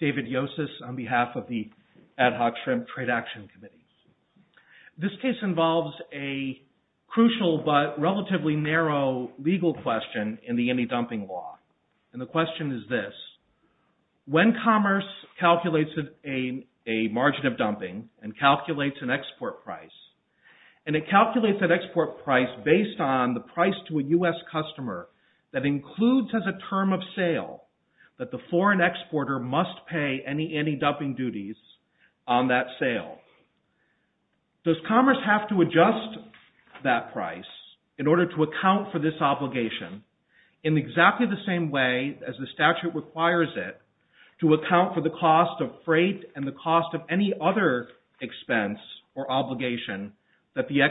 David Yosses, on behalf of the Ad Hoc Shrimp Trade Action Committee. This case involves a crucial but relatively narrow legal question in the anti-dumping law. And the question is this, when commerce calculates a margin of dumping and calculates an export price, and it calculates that export price based on the price to a U.S. customer that includes as a term of sale, does commerce have to adjust that price in order to account for this obligation in exactly the same way as the statute requires it to account for the cost of freight and the cost of any other expense or obligation that the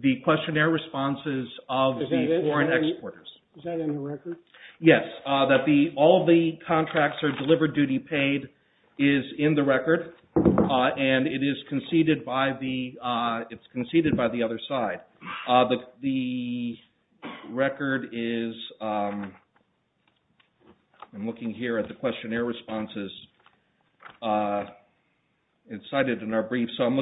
the questionnaire responses of the foreign exporters. Is that in the record? Yes, all the contracts are delivered, duty paid, is in the record, and it is conceded by the other side. The record is, I'm looking here at the questionnaire responses, it's cited in our page 52,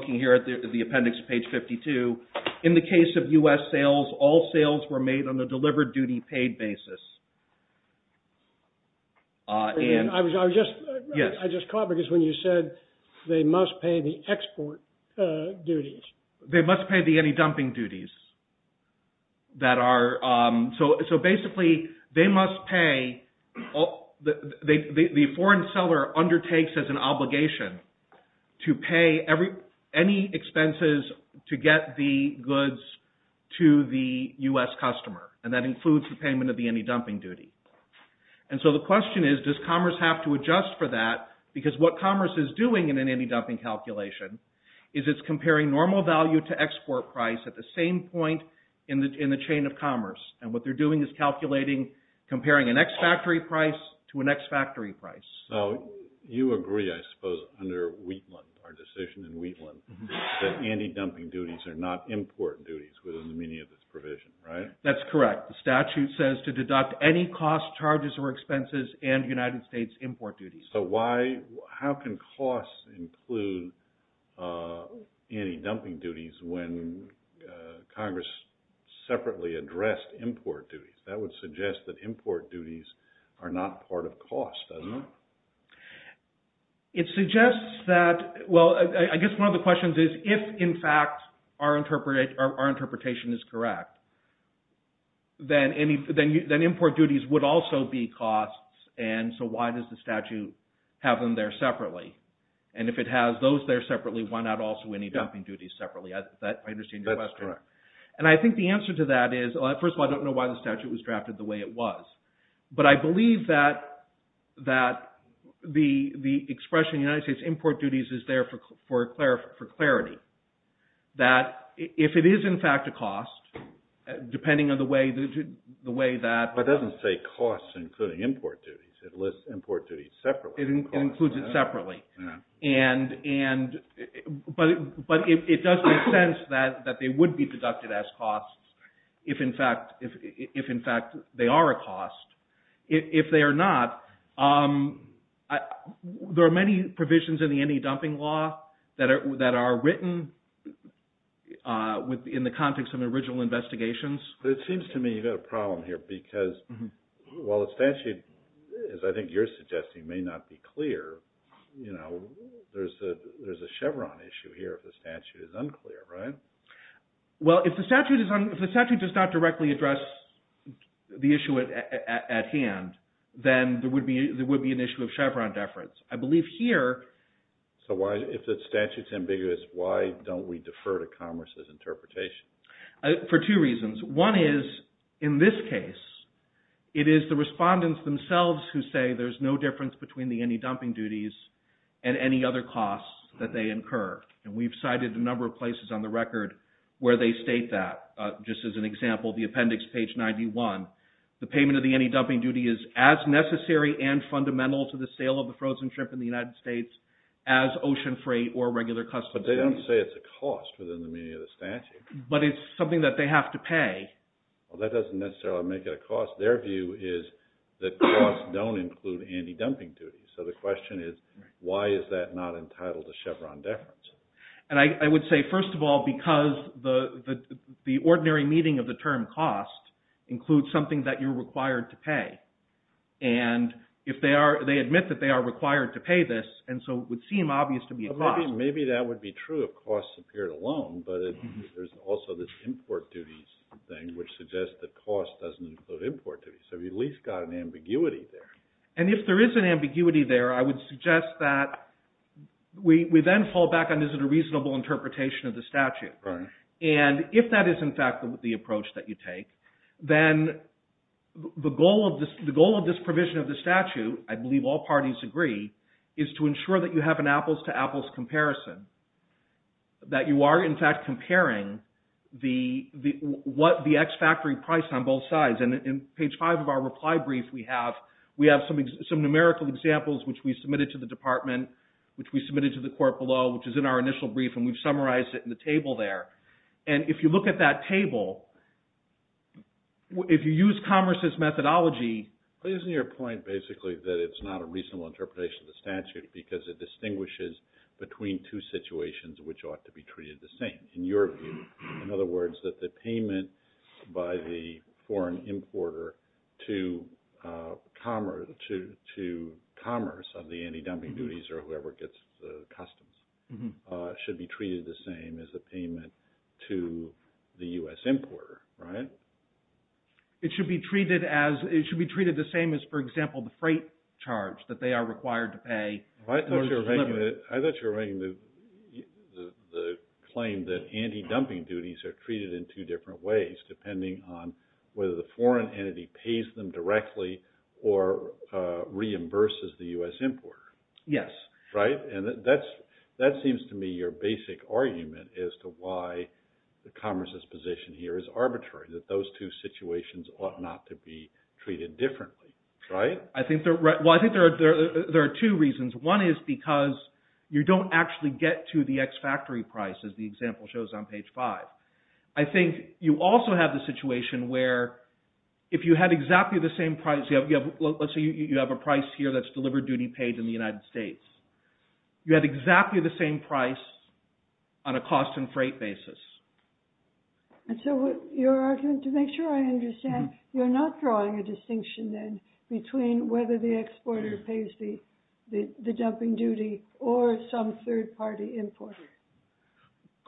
in the case of U.S. sales, all sales were made on the delivered duty paid basis. I was just caught because when you said they must pay the export duties. They must pay the anti-dumping duties that are, so basically they must pay, the foreign seller undertakes as an obligation to pay any expenses to get the goods to the U.S. customer, and that includes the payment of the anti-dumping duty. And so the question is, does commerce have to adjust for that? Because what commerce is doing in an anti-dumping calculation is it's comparing normal value to export price at the same point in the chain of commerce, and what price to an ex-factory price. So you agree, I suppose, under Wheatland, our decision in Wheatland, that anti-dumping duties are not import duties within the meaning of this provision, right? That's correct. The statute says to deduct any cost, charges, or expenses and United States import duties. So why, how can costs include anti-dumping duties when Congress separately addressed import duties? That would suggest that import duties are not part of cost, doesn't it? It suggests that, well, I guess one of the questions is, if in fact our interpretation is correct, then import duties would also be costs, and so why does the statute have them there separately? And if it has those there separately, why not also any dumping duties separately? I understand your question. And I think the answer to that is, first of all, I don't know why the statute was drafted the way it was. But I believe that the expression United States import duties is there for clarity, that if it is in fact a cost, depending on the way that... But it doesn't say costs including import duties. It lists import duties separately. It includes it separately. But it does make sense that they would be deducted as if in fact they are a cost. If they are not, there are many provisions in the anti-dumping law that are written within the context of original investigations. It seems to me you've got a problem here, because while the statute, as I think you're suggesting, may not be clear, you know, there's a Chevron issue here if the statute is unclear, right? Well, if the statute is not directly addressed, the issue at hand, then there would be an issue of Chevron deference. I believe here... So why, if the statute is ambiguous, why don't we defer to Congress's interpretation? For two reasons. One is, in this case, it is the respondents themselves who say there's no difference between the anti-dumping duties and any other costs that they incur. And we've cited a number of places on the record where they state that, just as an example, the appendix page 91, the payment of the anti-dumping duty is as necessary and fundamental to the sale of the frozen shrimp in the United States as ocean freight or regular customs. But they don't say it's a cost within the meaning of the statute. But it's something that they have to pay. Well, that doesn't necessarily make it a cost. Their view is that costs don't include anti-dumping duties. So the question is, why is that not entitled to Chevron deference? And I think the term cost includes something that you're required to pay. And if they are, they admit that they are required to pay this, and so it would seem obvious to be a cost. Maybe that would be true if costs appeared alone, but there's also this import duties thing, which suggests that cost doesn't include import duties. So we've at least got an ambiguity there. And if there is an ambiguity there, I would suggest that we then fall back on, is it a reasonable interpretation of the that you take, then the goal of this provision of the statute, I believe all parties agree, is to ensure that you have an apples-to-apples comparison. That you are in fact comparing what the X factory priced on both sides. And in page five of our reply brief, we have some numerical examples which we submitted to the department, which we submitted to the court below, which is in our initial brief, and we've summarized it in the table there. And if you look at that table, if you use commerce's methodology. Isn't your point basically that it's not a reasonable interpretation of the statute, because it distinguishes between two situations which ought to be treated the same, in your view. In other words, that the payment by the foreign importer to commerce of the anti-dumping duties, or whoever gets the customs, should be treated the same as the payment to the U.S. importer, right? It should be treated as, it should be treated the same as, for example, the freight charge that they are required to pay. I thought you were making the claim that anti-dumping duties are treated in two different ways, depending on whether the foreign entity pays them directly or reimburses the U.S. importer. Yes. Right? And that seems to me your basic argument as to why the commerce's position here is arbitrary, that those two situations ought not to be treated differently, right? I think there are two reasons. One is because you don't actually get to the ex-factory price, as the example shows on page five. I think you also have the situation where, if you had exactly the same price, let's say you have a price here that's delivered duty paid in the United States, you had exactly the same price on a cost and freight basis. And so your argument, to make sure I understand, you're not drawing a distinction then between whether the exporter pays the dumping duty or some third-party importer.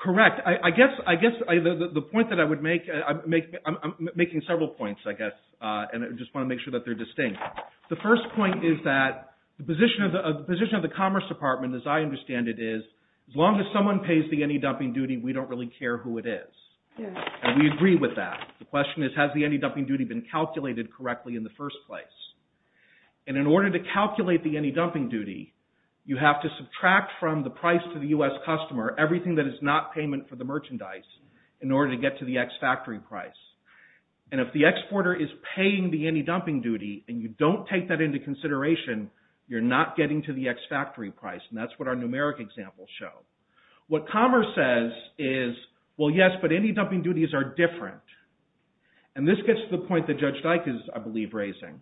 Correct. I guess the point that I would make, I'm making several points, I guess, and I just want to make sure that they're distinct. The first point is that the position of the Commerce Department, as I understand it, is as long as someone pays the any dumping duty, we don't really care who it is. We agree with that. The question is, has the any dumping duty been calculated correctly in the first place? And in order to calculate the any dumping duty, you have to subtract from the price to the U.S. customer everything that is not payment for the merchandise in order to the X factory price. And if the exporter is paying the any dumping duty and you don't take that into consideration, you're not getting to the X factory price. And that's what our numeric examples show. What Commerce says is, well yes, but any dumping duties are different. And this gets to the point that Judge Dyck is, I believe, raising.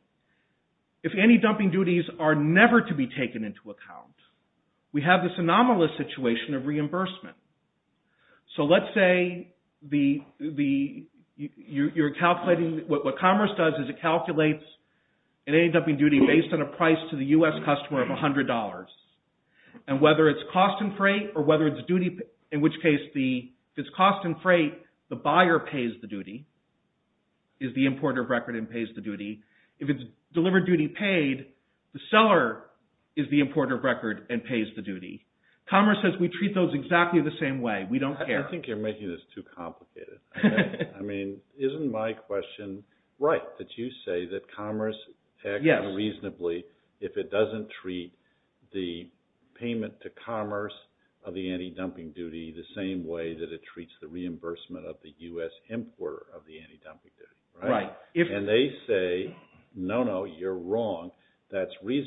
If any dumping duties are never to be taken into account, we have this anomalous situation of reimbursement. So let's say you're calculating, what Commerce does is it calculates an any dumping duty based on a price to the U.S. customer of $100. And whether it's cost in freight or whether it's duty, in which case, if it's cost in freight, the buyer pays the duty, is the importer of record and pays the duty. If it's delivered duty paid, the seller is the importer of record and pays the duty. Commerce says we treat those exactly the same way. We don't care. I think you're making this too complicated. I mean, isn't my question right, that you say that Commerce acts reasonably if it doesn't treat the payment to Commerce of the any dumping duty the same way that it treats the reimbursement of the U.S. importer of the any dumping duty? Right. And they say, no, no, you're wrong. That's going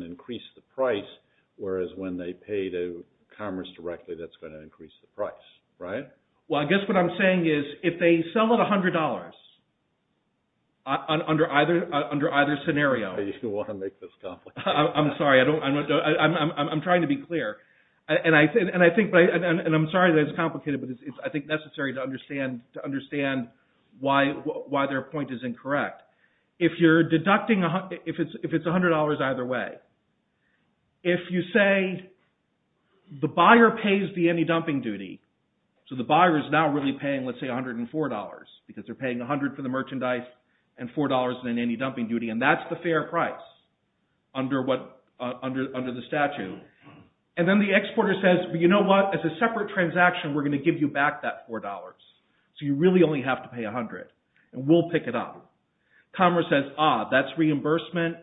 to increase the price, whereas when they pay to Commerce directly, that's going to increase the price, right? Well, I guess what I'm saying is, if they sell at $100 under either scenario. You want to make this complicated. I'm sorry. I'm trying to be clear. And I think, and I'm sorry that it's complicated, but it's, I think, necessary to understand why their point is incorrect. If you're If you say the buyer pays the any dumping duty, so the buyer is now really paying, let's say, $104, because they're paying $100 for the merchandise and $4 in any dumping duty, and that's the fair price under the statute. And then the exporter says, you know what? As a separate transaction, we're going to give you back that $4. So you really only have to pay $100, and we'll pick it up. Commerce says, that's reimbursement.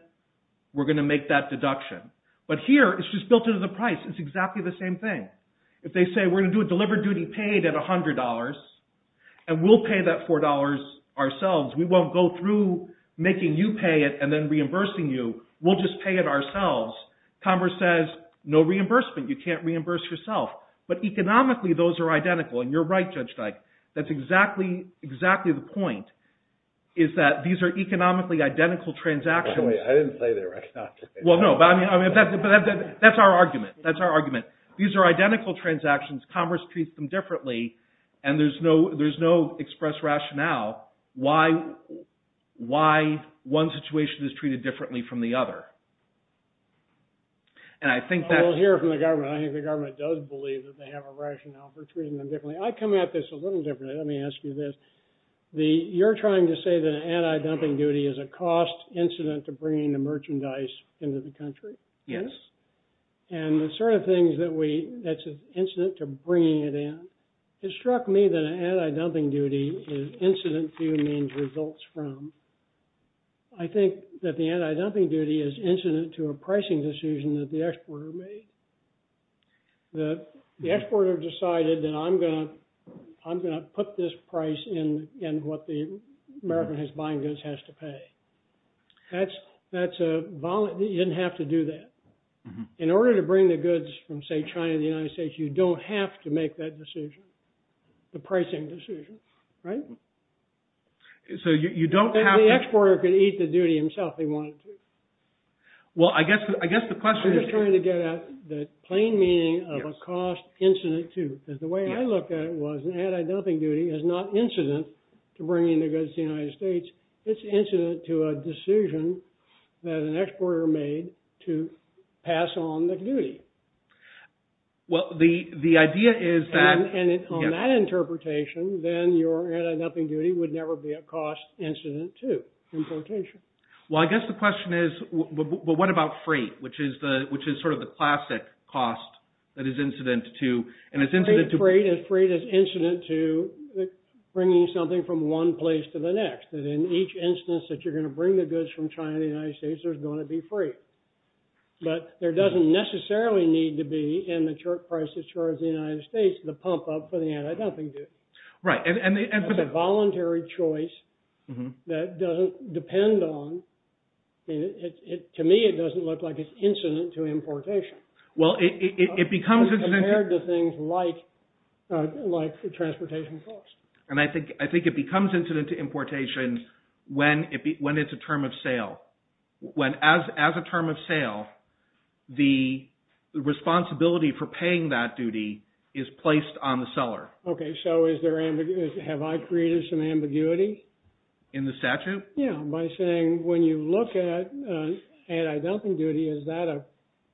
We're going to make that deduction. But here, it's just built into the price. It's exactly the same thing. If they say, we're going to do a delivered duty paid at $100, and we'll pay that $4 ourselves, we won't go through making you pay it and then reimbursing you. We'll just pay it ourselves. Commerce says, no reimbursement. You can't reimburse yourself. But economically, those are identical. And you're right, Judge Dyke. That's exactly the point, is that these are economically identical transactions. I didn't say they were identical. Well, no. But that's our argument. That's our argument. These are identical transactions. Commerce treats them differently. And there's no express rationale why one situation is treated differently from the other. And I think that... I will hear from the government. I think the government does believe that they have a rationale for treating them differently. I come at this a little differently. Let me ask you this. You're trying to say that an anti-dumping duty is a cost incident to bringing the merchandise into the country? Yes. And the sort of things that we... that's an incident to bringing it in. It struck me that an anti-dumping duty is incident to means results from. I think that the anti-dumping duty is incident to a pricing decision that the exporter made. The exporter decided that I'm going to put this price in what the American buying goods has to pay. That's a... you didn't have to do that. In order to bring the goods from, say, China to the United States, you don't have to make that decision, the pricing decision, right? So you don't have... And the exporter could eat the duty himself if he wanted to. Well, I guess the question is... I'm just trying to get at the plain meaning of a cost incident to, because the way I looked at it was an anti-dumping duty is not incident to bringing the goods to the United States. It's incident to a decision that an exporter made to pass on the duty. Well, the idea is that... And on that interpretation, then your anti-dumping duty would never be a cost incident to, in potential. Well, I guess the question is, well, what about freight, which is sort of the classic cost that is incident to, and it's incident to... Freight is incident to bringing something from one place to the next, that in each instance that you're going to bring the goods from China to the United States, there's going to be freight. But there doesn't necessarily need to be, in the prices charged to the United States, the pump-up for the anti-dumping duty. Right, and... Voluntary choice that doesn't depend on... To me, it doesn't look like it's incident to importation. Well, it becomes... Compared to things like the transportation cost. And I think it becomes incident to importation when it's a term of sale. When, as a term of sale, the responsibility for paying that duty is placed on the seller. Okay, so is there ambiguity... Have I created some ambiguity? In the statute? Yeah, by saying, when you look at anti-dumping duty, is that a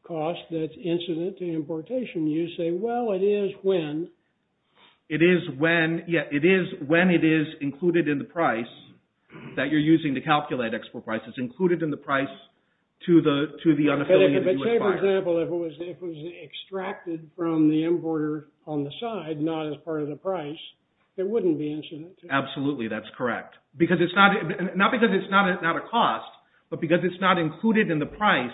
cost that's incident to importation? You say, well, it is when... It is when, yeah, it is when it is included in the price that you're using to calculate export prices, included in the price to the unaffiliated... For example, if it was extracted from the importer on the side, not as part of the price, it wouldn't be incident to... Absolutely, that's correct. Because it's not... Not because it's not a cost, but because it's not included in the price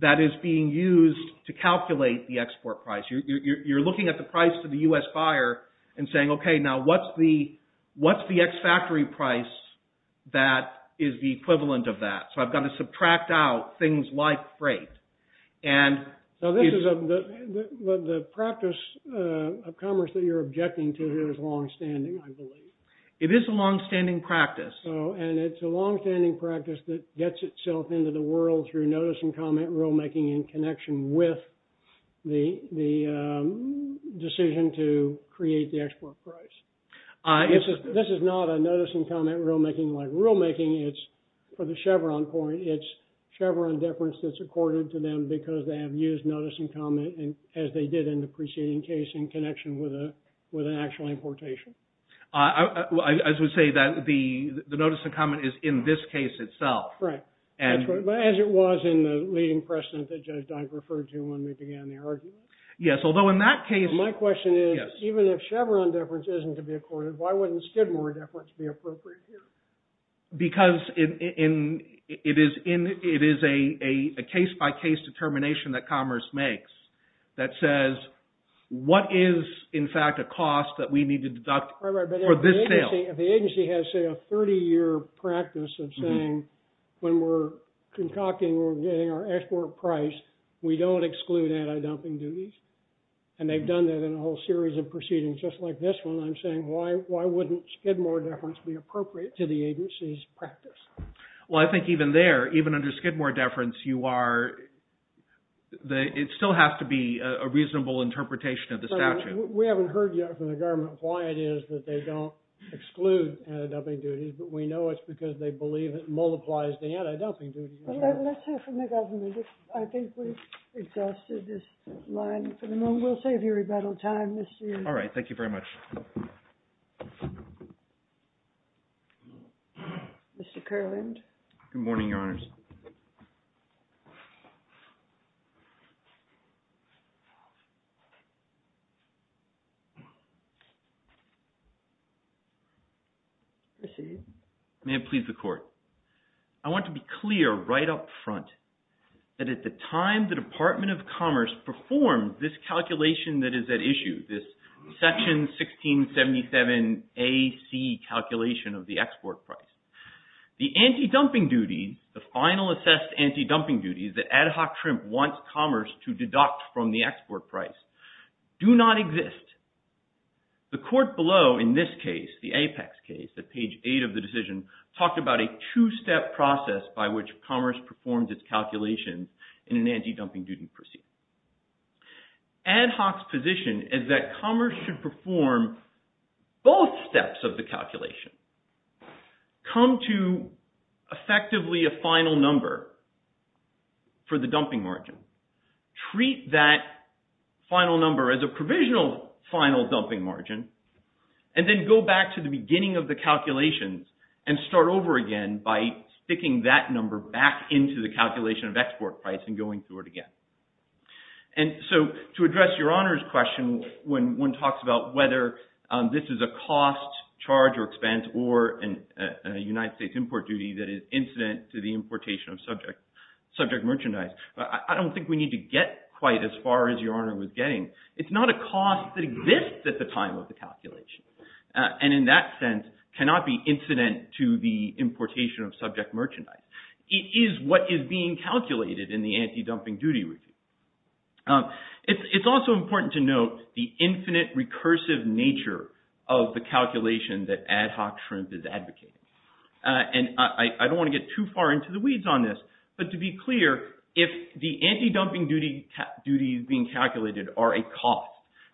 that is being used to calculate the export price. You're looking at the price to the U.S. buyer and saying, okay, now what's the ex-factory price that is the equivalent of that? I've got to subtract out things like freight. So the practice of commerce that you're objecting to here is long-standing, I believe. It is a long-standing practice. And it's a long-standing practice that gets itself into the world through notice-and-comment rulemaking in connection with the decision to create the export price. This is not a notice-and-comment rulemaking like rulemaking, it's for the Chevron deference that's accorded to them because they have used notice-and- comment as they did in the preceding case in connection with an actual importation. I would say that the notice-and-comment is in this case itself. Right, as it was in the leading precedent that Judge Dike referred to when we began the argument. Yes, although in that case... My question is, even if Chevron deference isn't to be accorded, why wouldn't Skidmore deference be appropriate here? Because it is a case-by-case determination that commerce makes that says, what is, in fact, a cost that we need to deduct for this sale? The agency has, say, a 30-year practice of saying, when we're concocting or getting our export price, we don't exclude anti-dumping duties. And they've done that in a whole series of proceedings just like this one. Why wouldn't Skidmore deference be appropriate to the agency's practice? Well, I think even there, even under Skidmore deference, you are... It still has to be a reasonable interpretation of the statute. We haven't heard yet from the government why it is that they don't exclude anti-dumping duties, but we know it's because they believe it multiplies the anti-dumping duties. Let's hear from the government. I think we've exhausted this line for the moment. We'll save you rebuttal time. All right, thank you very much. Thank you. Mr. Kerland? Good morning, Your Honors. Proceed. May it please the Court. I want to be clear right up front that at the time the Department of Commerce performed this calculation that is at issue, this Section 1677AC calculation of the export price, the anti-dumping duties, the final assessed anti-dumping duties that Ad Hoc Trim wants Commerce to deduct from the export price do not exist. The Court below, in this case, the Apex case, at page 8 of the decision, talked about a two-step process by which Commerce performs its calculations in an anti-dumping duty procedure. Ad Hoc's position is that Commerce should perform both steps of the calculation, come to effectively a final number for the dumping margin, treat that final number as a provisional final dumping margin, and then go back to the beginning of the calculations and start over again by sticking that number back into the calculation of export price and going through it again. And so to address Your Honor's question when one talks about whether this is a cost, charge, or expense, or a United States import duty that is incident to the importation of subject merchandise, I don't think we need to get quite as far as Your Honor was getting. It's not a cost that exists at the time of the calculation, and in that sense cannot be incident to the importation of subject merchandise. It is what is being calculated in the anti-dumping duty regime. It's also important to note the infinite recursive nature of the calculation that Ad Hoc Shrimp is advocating. And I don't want to get too far into the weeds on this, but to be clear, if the anti-dumping duty is being calculated are a cost,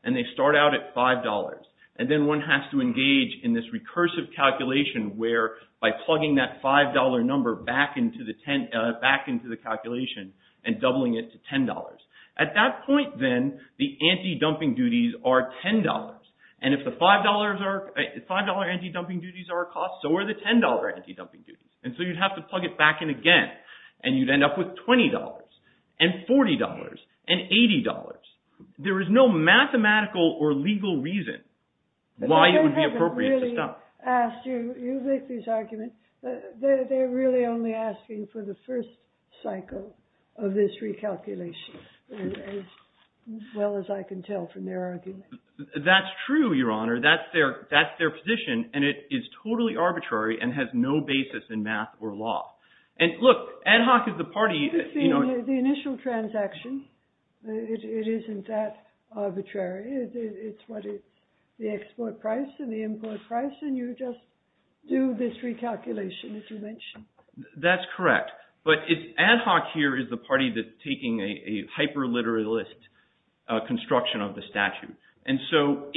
and they start out at $5, and then one has to engage in this recursive calculation where by plugging that $5 number back into the calculation and doubling it to $10. At that point, then, the anti-dumping duties are $10. And if the $5 anti-dumping duties are a cost, so are the $10 anti-dumping duties. And so you'd have to plug it back in again, and you'd end up with $20, and $40, and $80. There is no mathematical or legal reason why it would be appropriate to stop. As you make these arguments, they're really only asking for the first cycle of this recalculation, as well as I can tell from their argument. That's true, Your Honor. That's their position. And it is totally arbitrary and has no basis in math or law. And look, Ad Hoc is the party. The initial transaction, it isn't that arbitrary. It's what is the export price and the import price. And you just do this recalculation, as you mentioned. That's correct. But Ad Hoc here is the party that's taking a hyper-literalist construction of the statute. And so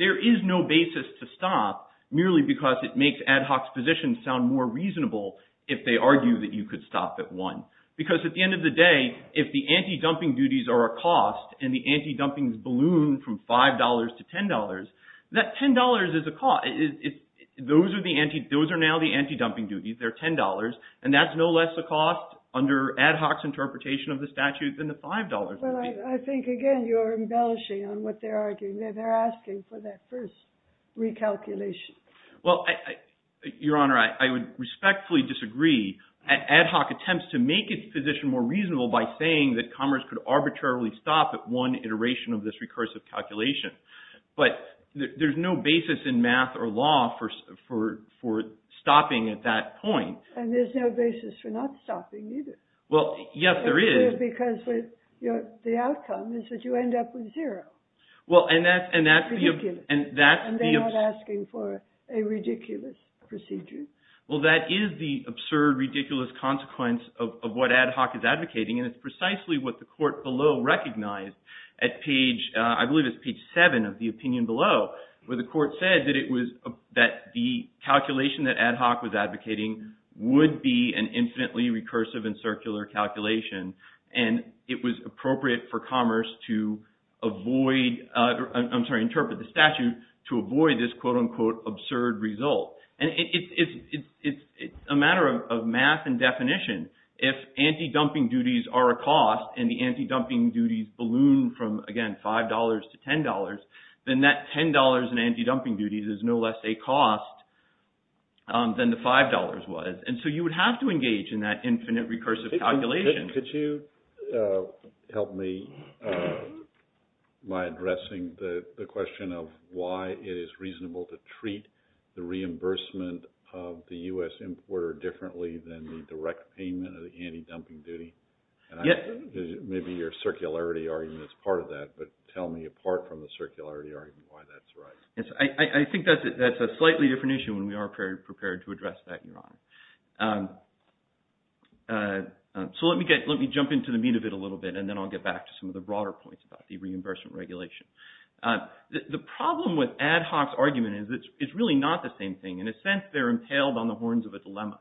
there is no basis to stop, merely because it makes Ad Hoc's position sound more reasonable if they argue that you could stop at one. Because at the end of the day, if the anti-dumping duties are a cost, and the anti-dumping's balloon from $5 to $10, that $10 is a cost. Those are now the anti-dumping duties. They're $10. And that's no less a cost under Ad Hoc's interpretation of the statute than the $5 would be. I think, again, you're embellishing on what they're arguing. They're asking for that first recalculation. Well, Your Honor, I would respectfully disagree. Ad Hoc attempts to make its position more reasonable by saying that commerce could But there's no basis in math or law for stopping at that point. And there's no basis for not stopping, either. Well, yes, there is. Because the outcome is that you end up with zero. Well, and that's the— Ridiculous. And they're not asking for a ridiculous procedure. Well, that is the absurd, ridiculous consequence of what Ad Hoc is advocating. And it's precisely what the court below recognized at page—I believe it's page 7 of the opinion below, where the court said that it was—that the calculation that Ad Hoc was advocating would be an infinitely recursive and circular calculation. And it was appropriate for commerce to avoid—I'm sorry, interpret the statute to avoid this absurd result. And it's a matter of math and definition. If anti-dumping duties are a cost and the anti-dumping duties balloon from, again, $5 to $10, then that $10 in anti-dumping duties is no less a cost than the $5 was. And so you would have to engage in that infinite recursive calculation. Could you help me by addressing the question of why it is reasonable to treat the reimbursement of the U.S. importer differently than the direct payment of the anti-dumping duty? Yeah. Maybe your circularity argument is part of that, but tell me apart from the circularity argument why that's right. Yes, I think that's a slightly different issue, and we are prepared to address that, Your Honor. So let me jump into the meat of it a little bit, and then I'll get back to some of the broader points about the reimbursement regulation. The problem with Ad Hoc's argument is it's really not the same thing. In a sense, they're impaled on the horns of a dilemma.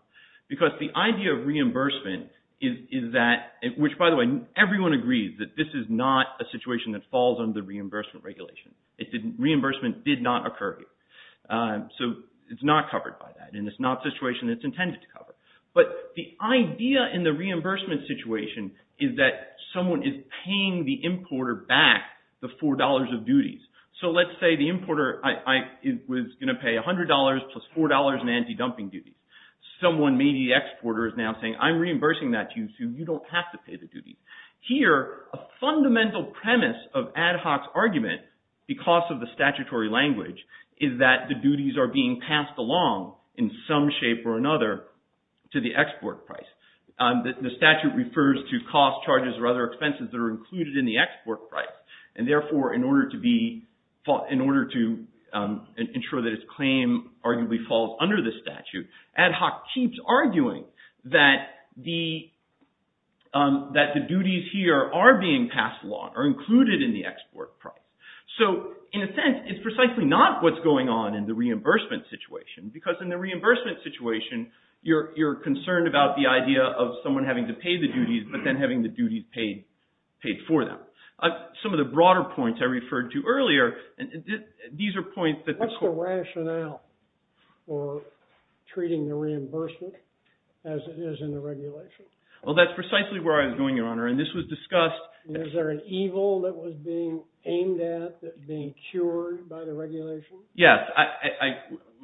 Because the idea of reimbursement is that—which, by the way, everyone agrees that this is not a situation that falls under the reimbursement regulation. It didn't—reimbursement did not occur here. So it's not covered by that. And it's not a situation that's intended to cover. But the idea in the reimbursement situation is that someone is paying the importer back the $4 of duties. So let's say the importer was going to pay $100 plus $4 in anti-dumping duties. Someone, maybe the exporter, is now saying, I'm reimbursing that to you, so you don't have to pay the duties. Here, a fundamental premise of Ad Hoc's argument, because of the statutory language, is that the duties are being passed along in some shape or another to the export price. The statute refers to costs, charges, or other expenses that are included in the export price. And therefore, in order to be—in order to ensure that its claim arguably falls under the statute, Ad Hoc keeps arguing that the duties here are being passed along, are included in the export price. So in a sense, it's precisely not what's going on in the reimbursement situation. Because in the reimbursement situation, you're concerned about the idea of someone having to pay the duties, but then having the duties paid for them. Some of the broader points I referred to earlier, these are points that— What's the rationale for treating the reimbursement as it is in the regulation? Well, that's precisely where I was going, Your Honor. And this was discussed— Is there an evil that was being aimed at, being cured by the regulation? Yes.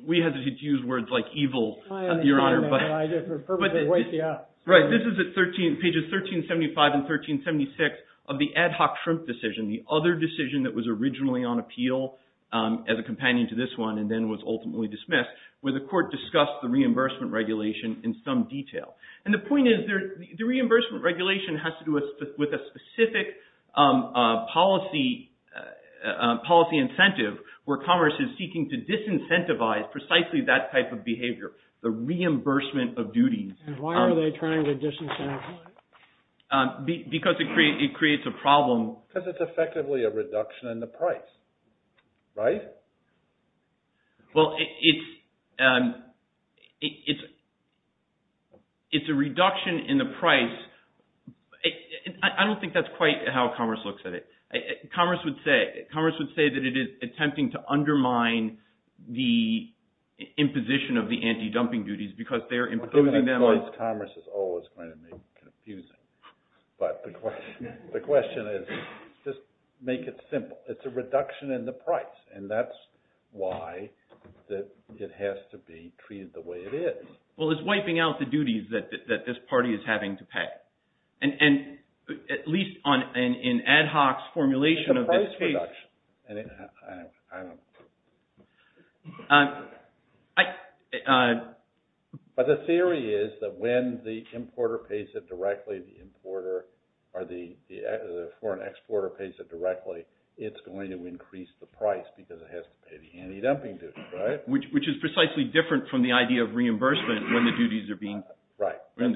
We had to use words like evil, Your Honor. Right. This is at 13—pages 1375 and 1376 of the Ad Hoc-Shrimp decision, the other decision that was originally on appeal as a companion to this one, and then was ultimately dismissed, where the court discussed the reimbursement regulation in some detail. And the point is, the reimbursement regulation has to do with a specific policy incentive where commerce is seeking to disincentivize precisely that type of behavior, the reimbursement of duties. Why are they trying to disincentivize? Because it creates a problem. Because it's effectively a reduction in the price, right? Well, it's a reduction in the price. I don't think that's quite how commerce looks at it. Commerce would say that it is attempting to undermine the imposition of the anti-dumping duties because they're imposing them on— Given the cost, commerce is always going to be confusing. But the question is, just make it simple. It's a reduction in the price. And that's why it has to be treated the way it is. Well, it's wiping out the duties that this party is having to pay. And at least in Ad Hoc's formulation of this case— It's a price reduction. But the theory is that when the importer pays it directly, or the foreign exporter pays it directly, it's going to increase the price because it has to pay the anti-dumping duties, right? Which is precisely different from the idea of reimbursement when the duties are being— Right. And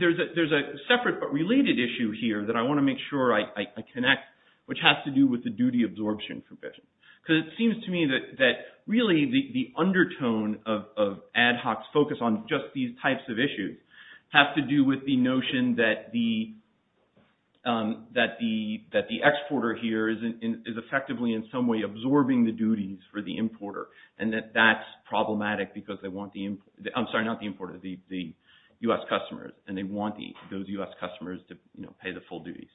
there's a separate but related issue here that I want to make sure I connect, which has to do with the duty absorption provision. Because it seems to me that really the undertone of Ad Hoc's focus on just these types of duties is that the exporter here is effectively in some way absorbing the duties for the importer, and that that's problematic because they want the— I'm sorry, not the importer, the U.S. customers. And they want those U.S. customers to pay the full duties.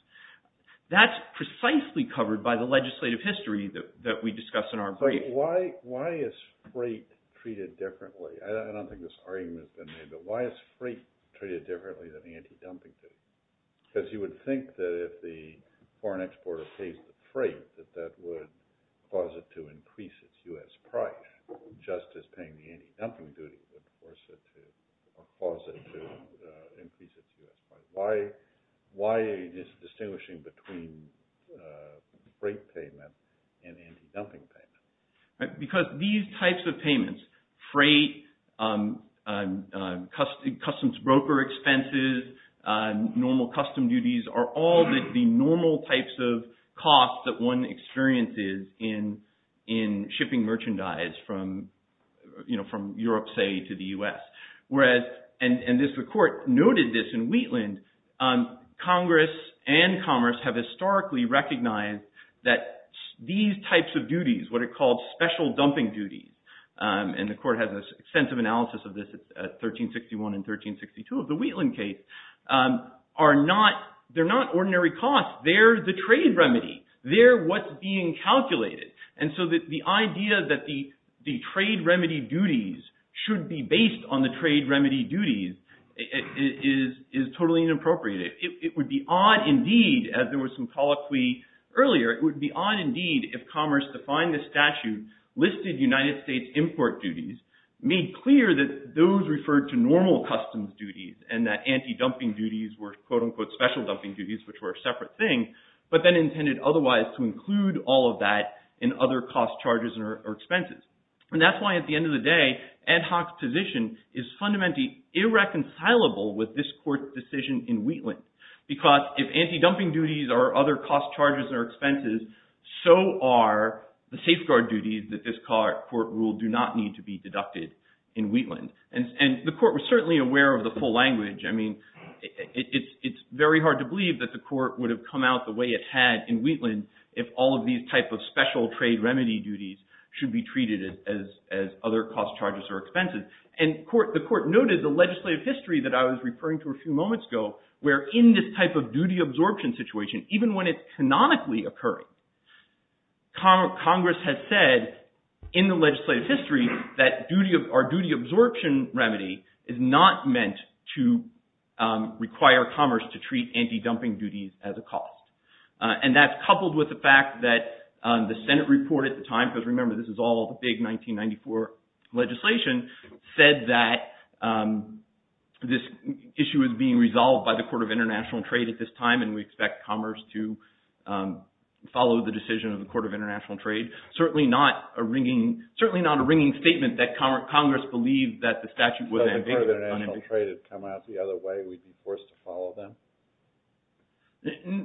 That's precisely covered by the legislative history that we discussed in our— Why is freight treated differently? I don't think this argument has been made, but why is freight treated differently than anti-dumping duties? Because you would think that if the foreign exporter pays the freight, that that would cause it to increase its U.S. price, just as paying the anti-dumping duties would cause it to increase its U.S. price. Why is distinguishing between freight payment and anti-dumping payment? Because these types of payments—freight, customs broker expenses, normal custom duties—are all the normal types of costs that one experiences in shipping merchandise from Europe, say, to the U.S. Whereas—and this report noted this in Wheatland—Congress and Commerce have historically recognized that these types of duties, what are called special dumping duties—and the Court has an extensive analysis of this at 1361 and 1362 of the Wheatland case—are not ordinary costs. They're the trade remedy. They're what's being calculated. And so the idea that the trade remedy duties should be based on the trade remedy duties is totally inappropriate. It would be odd, indeed, as there was some colloquy earlier, it would be odd, indeed, if Commerce, to find this statute, listed United States import duties, made clear that those referred to normal customs duties and that anti-dumping duties were, quote-unquote, special dumping duties, which were a separate thing, but then intended otherwise to include all of that in other cost charges or expenses. And that's why, at the end of the day, Ad Hoc's position is fundamentally irreconcilable with this Court's decision in Wheatland, because if anti-dumping duties are other cost charges or expenses, so are the safeguard duties that this Court ruled do not need to be deducted in Wheatland. And the Court was certainly aware of the full language. I mean, it's very hard to believe that the Court would have come out the way it had in Wheatland if all of these type of special trade remedy duties should be treated as other cost charges or expenses. And the Court noted the legislative history that I was referring to a few moments ago, where in this type of duty absorption situation, even when it's canonically occurring, Congress has said in the legislative history that our duty absorption remedy is not meant to require Commerce to treat anti-dumping duties as a cost. And that's coupled with the fact that the Senate report at the time, because remember, this is all the big 1994 legislation, said that this issue is being resolved by the Court of International Trade at this time, and we expect Commerce to follow the decision of the Court of International Trade. Certainly not a ringing statement that Congress believed that the statute was ambiguous. So if the Court of International Trade had come out the other way, we'd be forced to follow them?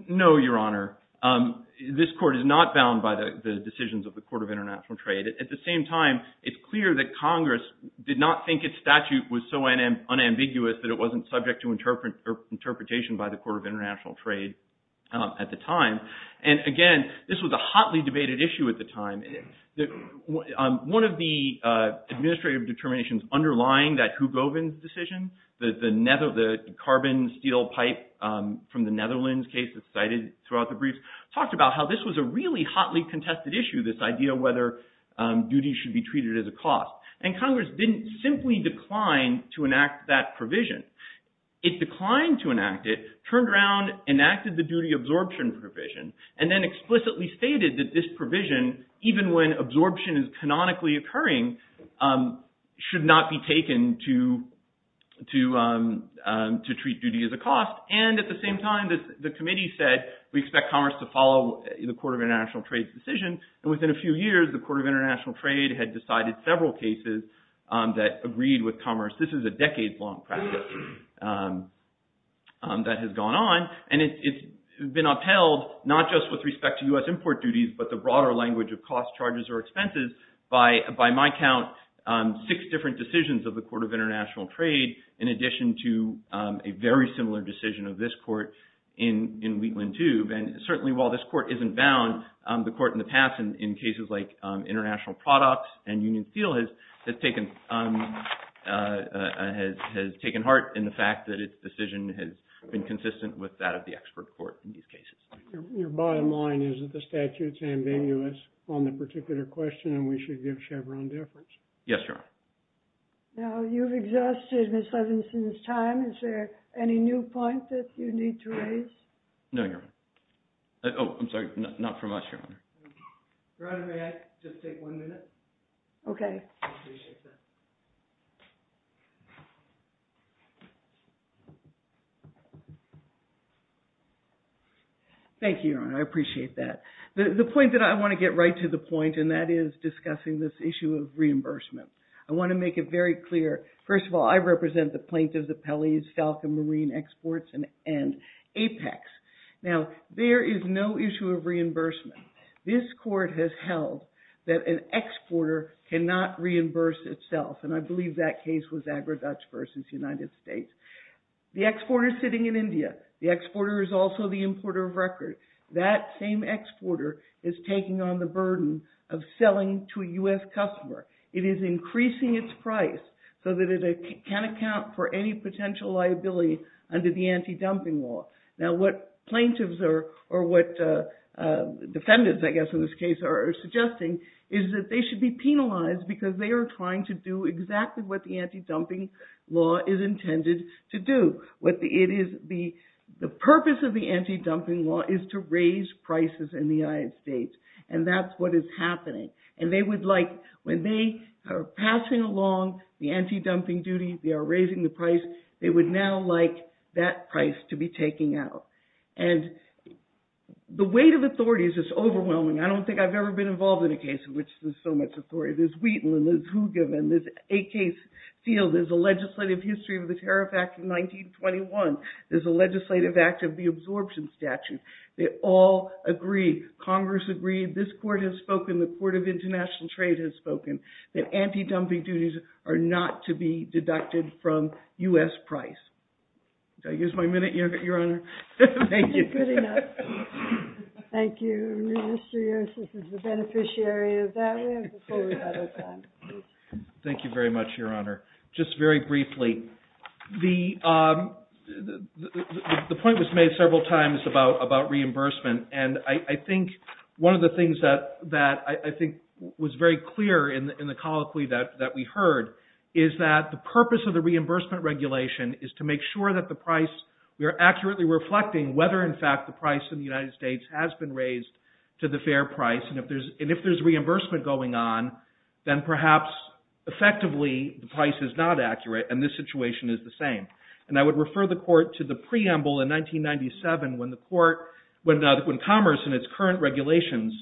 No, Your Honor. This Court is not bound by the decisions of the Court of International Trade. At the same time, it's clear that Congress did not think its statute was so unambiguous that it wasn't subject to interpretation by the Court of International Trade at the time. And again, this was a hotly debated issue at the time. One of the administrative determinations underlying that Hugovin decision, the carbon steel pipe from the Netherlands case that's cited throughout the briefs, talked about how this was a really hotly contested issue, this idea whether duty should be treated as a cost. And Congress didn't simply decline to enact that provision. It declined to enact it, turned around, enacted the duty absorption provision, and then explicitly stated that this provision, even when absorption is canonically occurring, should not be taken to treat duty as a cost. And at the same time, the committee said we expect Congress to follow the Court of International Trade's decision. And within a few years, the Court of International Trade had decided several cases that agreed with Congress. This is a decades-long practice that has gone on. And it's been upheld, not just with respect to US import duties, but the broader language of costs, charges, or expenses, by my count, six different decisions of the Court of International Trade, in addition to a very similar decision of this court in Wheatland Tube. And certainly, while this court isn't bound, the court in the past, in cases like International Products and Union Steel, has taken heart in the fact that its decision has been consistent with that of the expert court in these cases. Your bottom line is that the statute's ambiguous on the particular question, and we should give Chevron difference. Yes, Your Honor. Now, you've exhausted Ms. Levenson's time. Is there any new points that you need to raise? No, Your Honor. Oh, I'm sorry. Not from us, Your Honor. Your Honor, may I just take one minute? OK. Thank you, Your Honor. I appreciate that. The point that I want to get right to the point, and that is discussing this issue of reimbursement. I want to make it very clear. First of all, I represent the plaintiffs' appellees, Falcon Marine Exports, and Apex. Now, there is no issue of reimbursement. This court has held that an exporter cannot reimburse itself. And I believe that case was Agri-Dutch versus United States. The exporter's sitting in India. The exporter is also the importer of record. That same exporter is taking on the burden of selling to a US customer. It is increasing its price so that it can account for any potential liability under the anti-dumping law. Now, what plaintiffs are, or what defendants, I guess in this case, are suggesting is that they should be penalized because they are trying to do exactly what the anti-dumping law is intended to do. What it is, the purpose of the anti-dumping law is to raise prices in the United States. And that's what is happening. And they would like, when they are passing along the anti-dumping duty, they are raising the price, they would now like that price to be taken out. And the weight of authority is just overwhelming. I don't think I've ever been involved in a case in which there's so much authority. There's Wheaton, and there's Hooger, and there's a case, you know, there's a legislative history of the Tariff Act of 1921. There's a legislative act of the absorption statute. They all agree, Congress agreed, this court has spoken, the Court of International Trade has spoken, that anti-dumping duties are not to be deducted from US price. Did I use my minute, Your Honor? Thank you. Good enough. Thank you, Mr. Yost. This is the beneficiary of that. We have a full rebuttal time. Thank you very much, Your Honor. Just very briefly, the point was made several times about reimbursement, and I think one of the things that I think was very clear in the colloquy that we heard is that the purpose of the reimbursement regulation is to make sure that the price, we are accurately reflecting whether in fact the price in the United States has been raised to the fair price, and if there's reimbursement going on, then perhaps effectively the price is not accurate, and this situation is the same. And I would refer the court to the preamble in 1997 when the court, when Commerce and its current regulations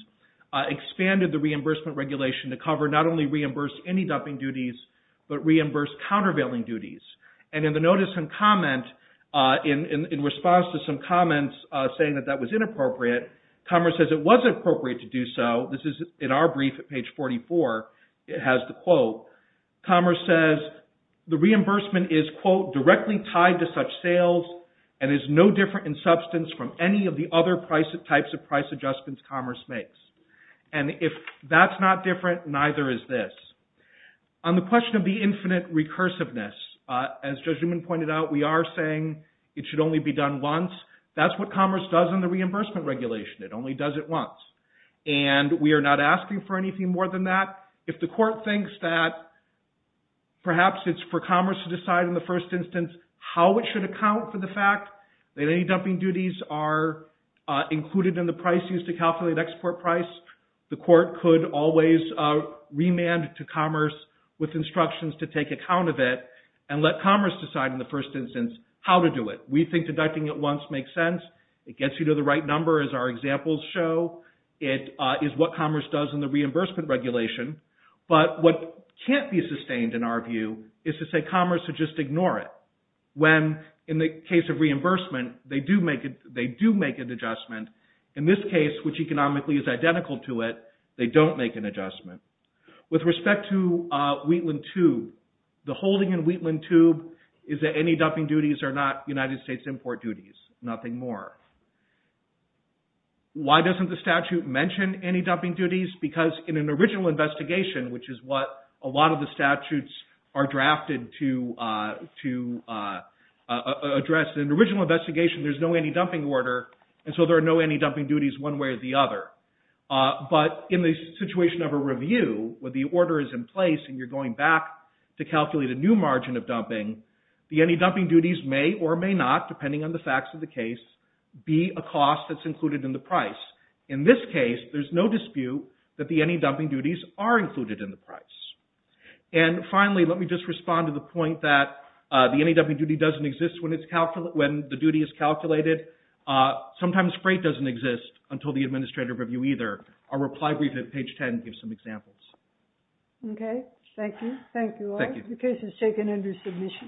expanded the reimbursement regulation to cover not only reimburse any dumping duties, but reimburse countervailing duties. And in the notice and comment, in response to some comments saying that that was inappropriate, Commerce says it was appropriate to do so. This is in our brief at page 44. It has the quote. Commerce says the reimbursement is, quote, directly tied to such sales and is no different in substance from any of the other types of price adjustments Commerce makes. And if that's not different, neither is this. On the question of the infinite recursiveness, as Judge Newman pointed out, we are saying it should only be done once. That's what Commerce does in the reimbursement regulation. It only does it once. And we are not asking for anything more than that. If the court thinks that perhaps it's for Commerce to decide in the first instance how it should account for the fact that any dumping duties are included in the price used to calculate export price, the court could always remand to Commerce with instructions to take account of it and let Commerce decide in the first instance how to do it. We think deducting it once makes sense. It gets you to the right number, as our examples show. It is what Commerce does in the reimbursement regulation. But what can't be sustained, in our view, is to say Commerce should just ignore it when, in the case of reimbursement, they do make an adjustment. In this case, which economically is identical to it, they don't make an adjustment. With respect to Wheatland Tube, the holding in Wheatland Tube is that any dumping duties are not United States import duties, nothing more. Why doesn't the statute mention any dumping duties? Because in an original investigation, which is what a lot of the statutes are drafted to address, in an original investigation there's no any dumping order, and so there are no any dumping duties one way or the other. But in the situation of a review, where the order is in place and you're going back to may or may not, depending on the facts of the case, be a cost that's included in the price. In this case, there's no dispute that the any dumping duties are included in the price. And finally, let me just respond to the point that the any dumping duty doesn't exist when it's calculated, when the duty is calculated. Sometimes freight doesn't exist until the administrative review either. Our reply brief at page 10 gives some examples. Okay. Thank you. Thank you all. Thank you.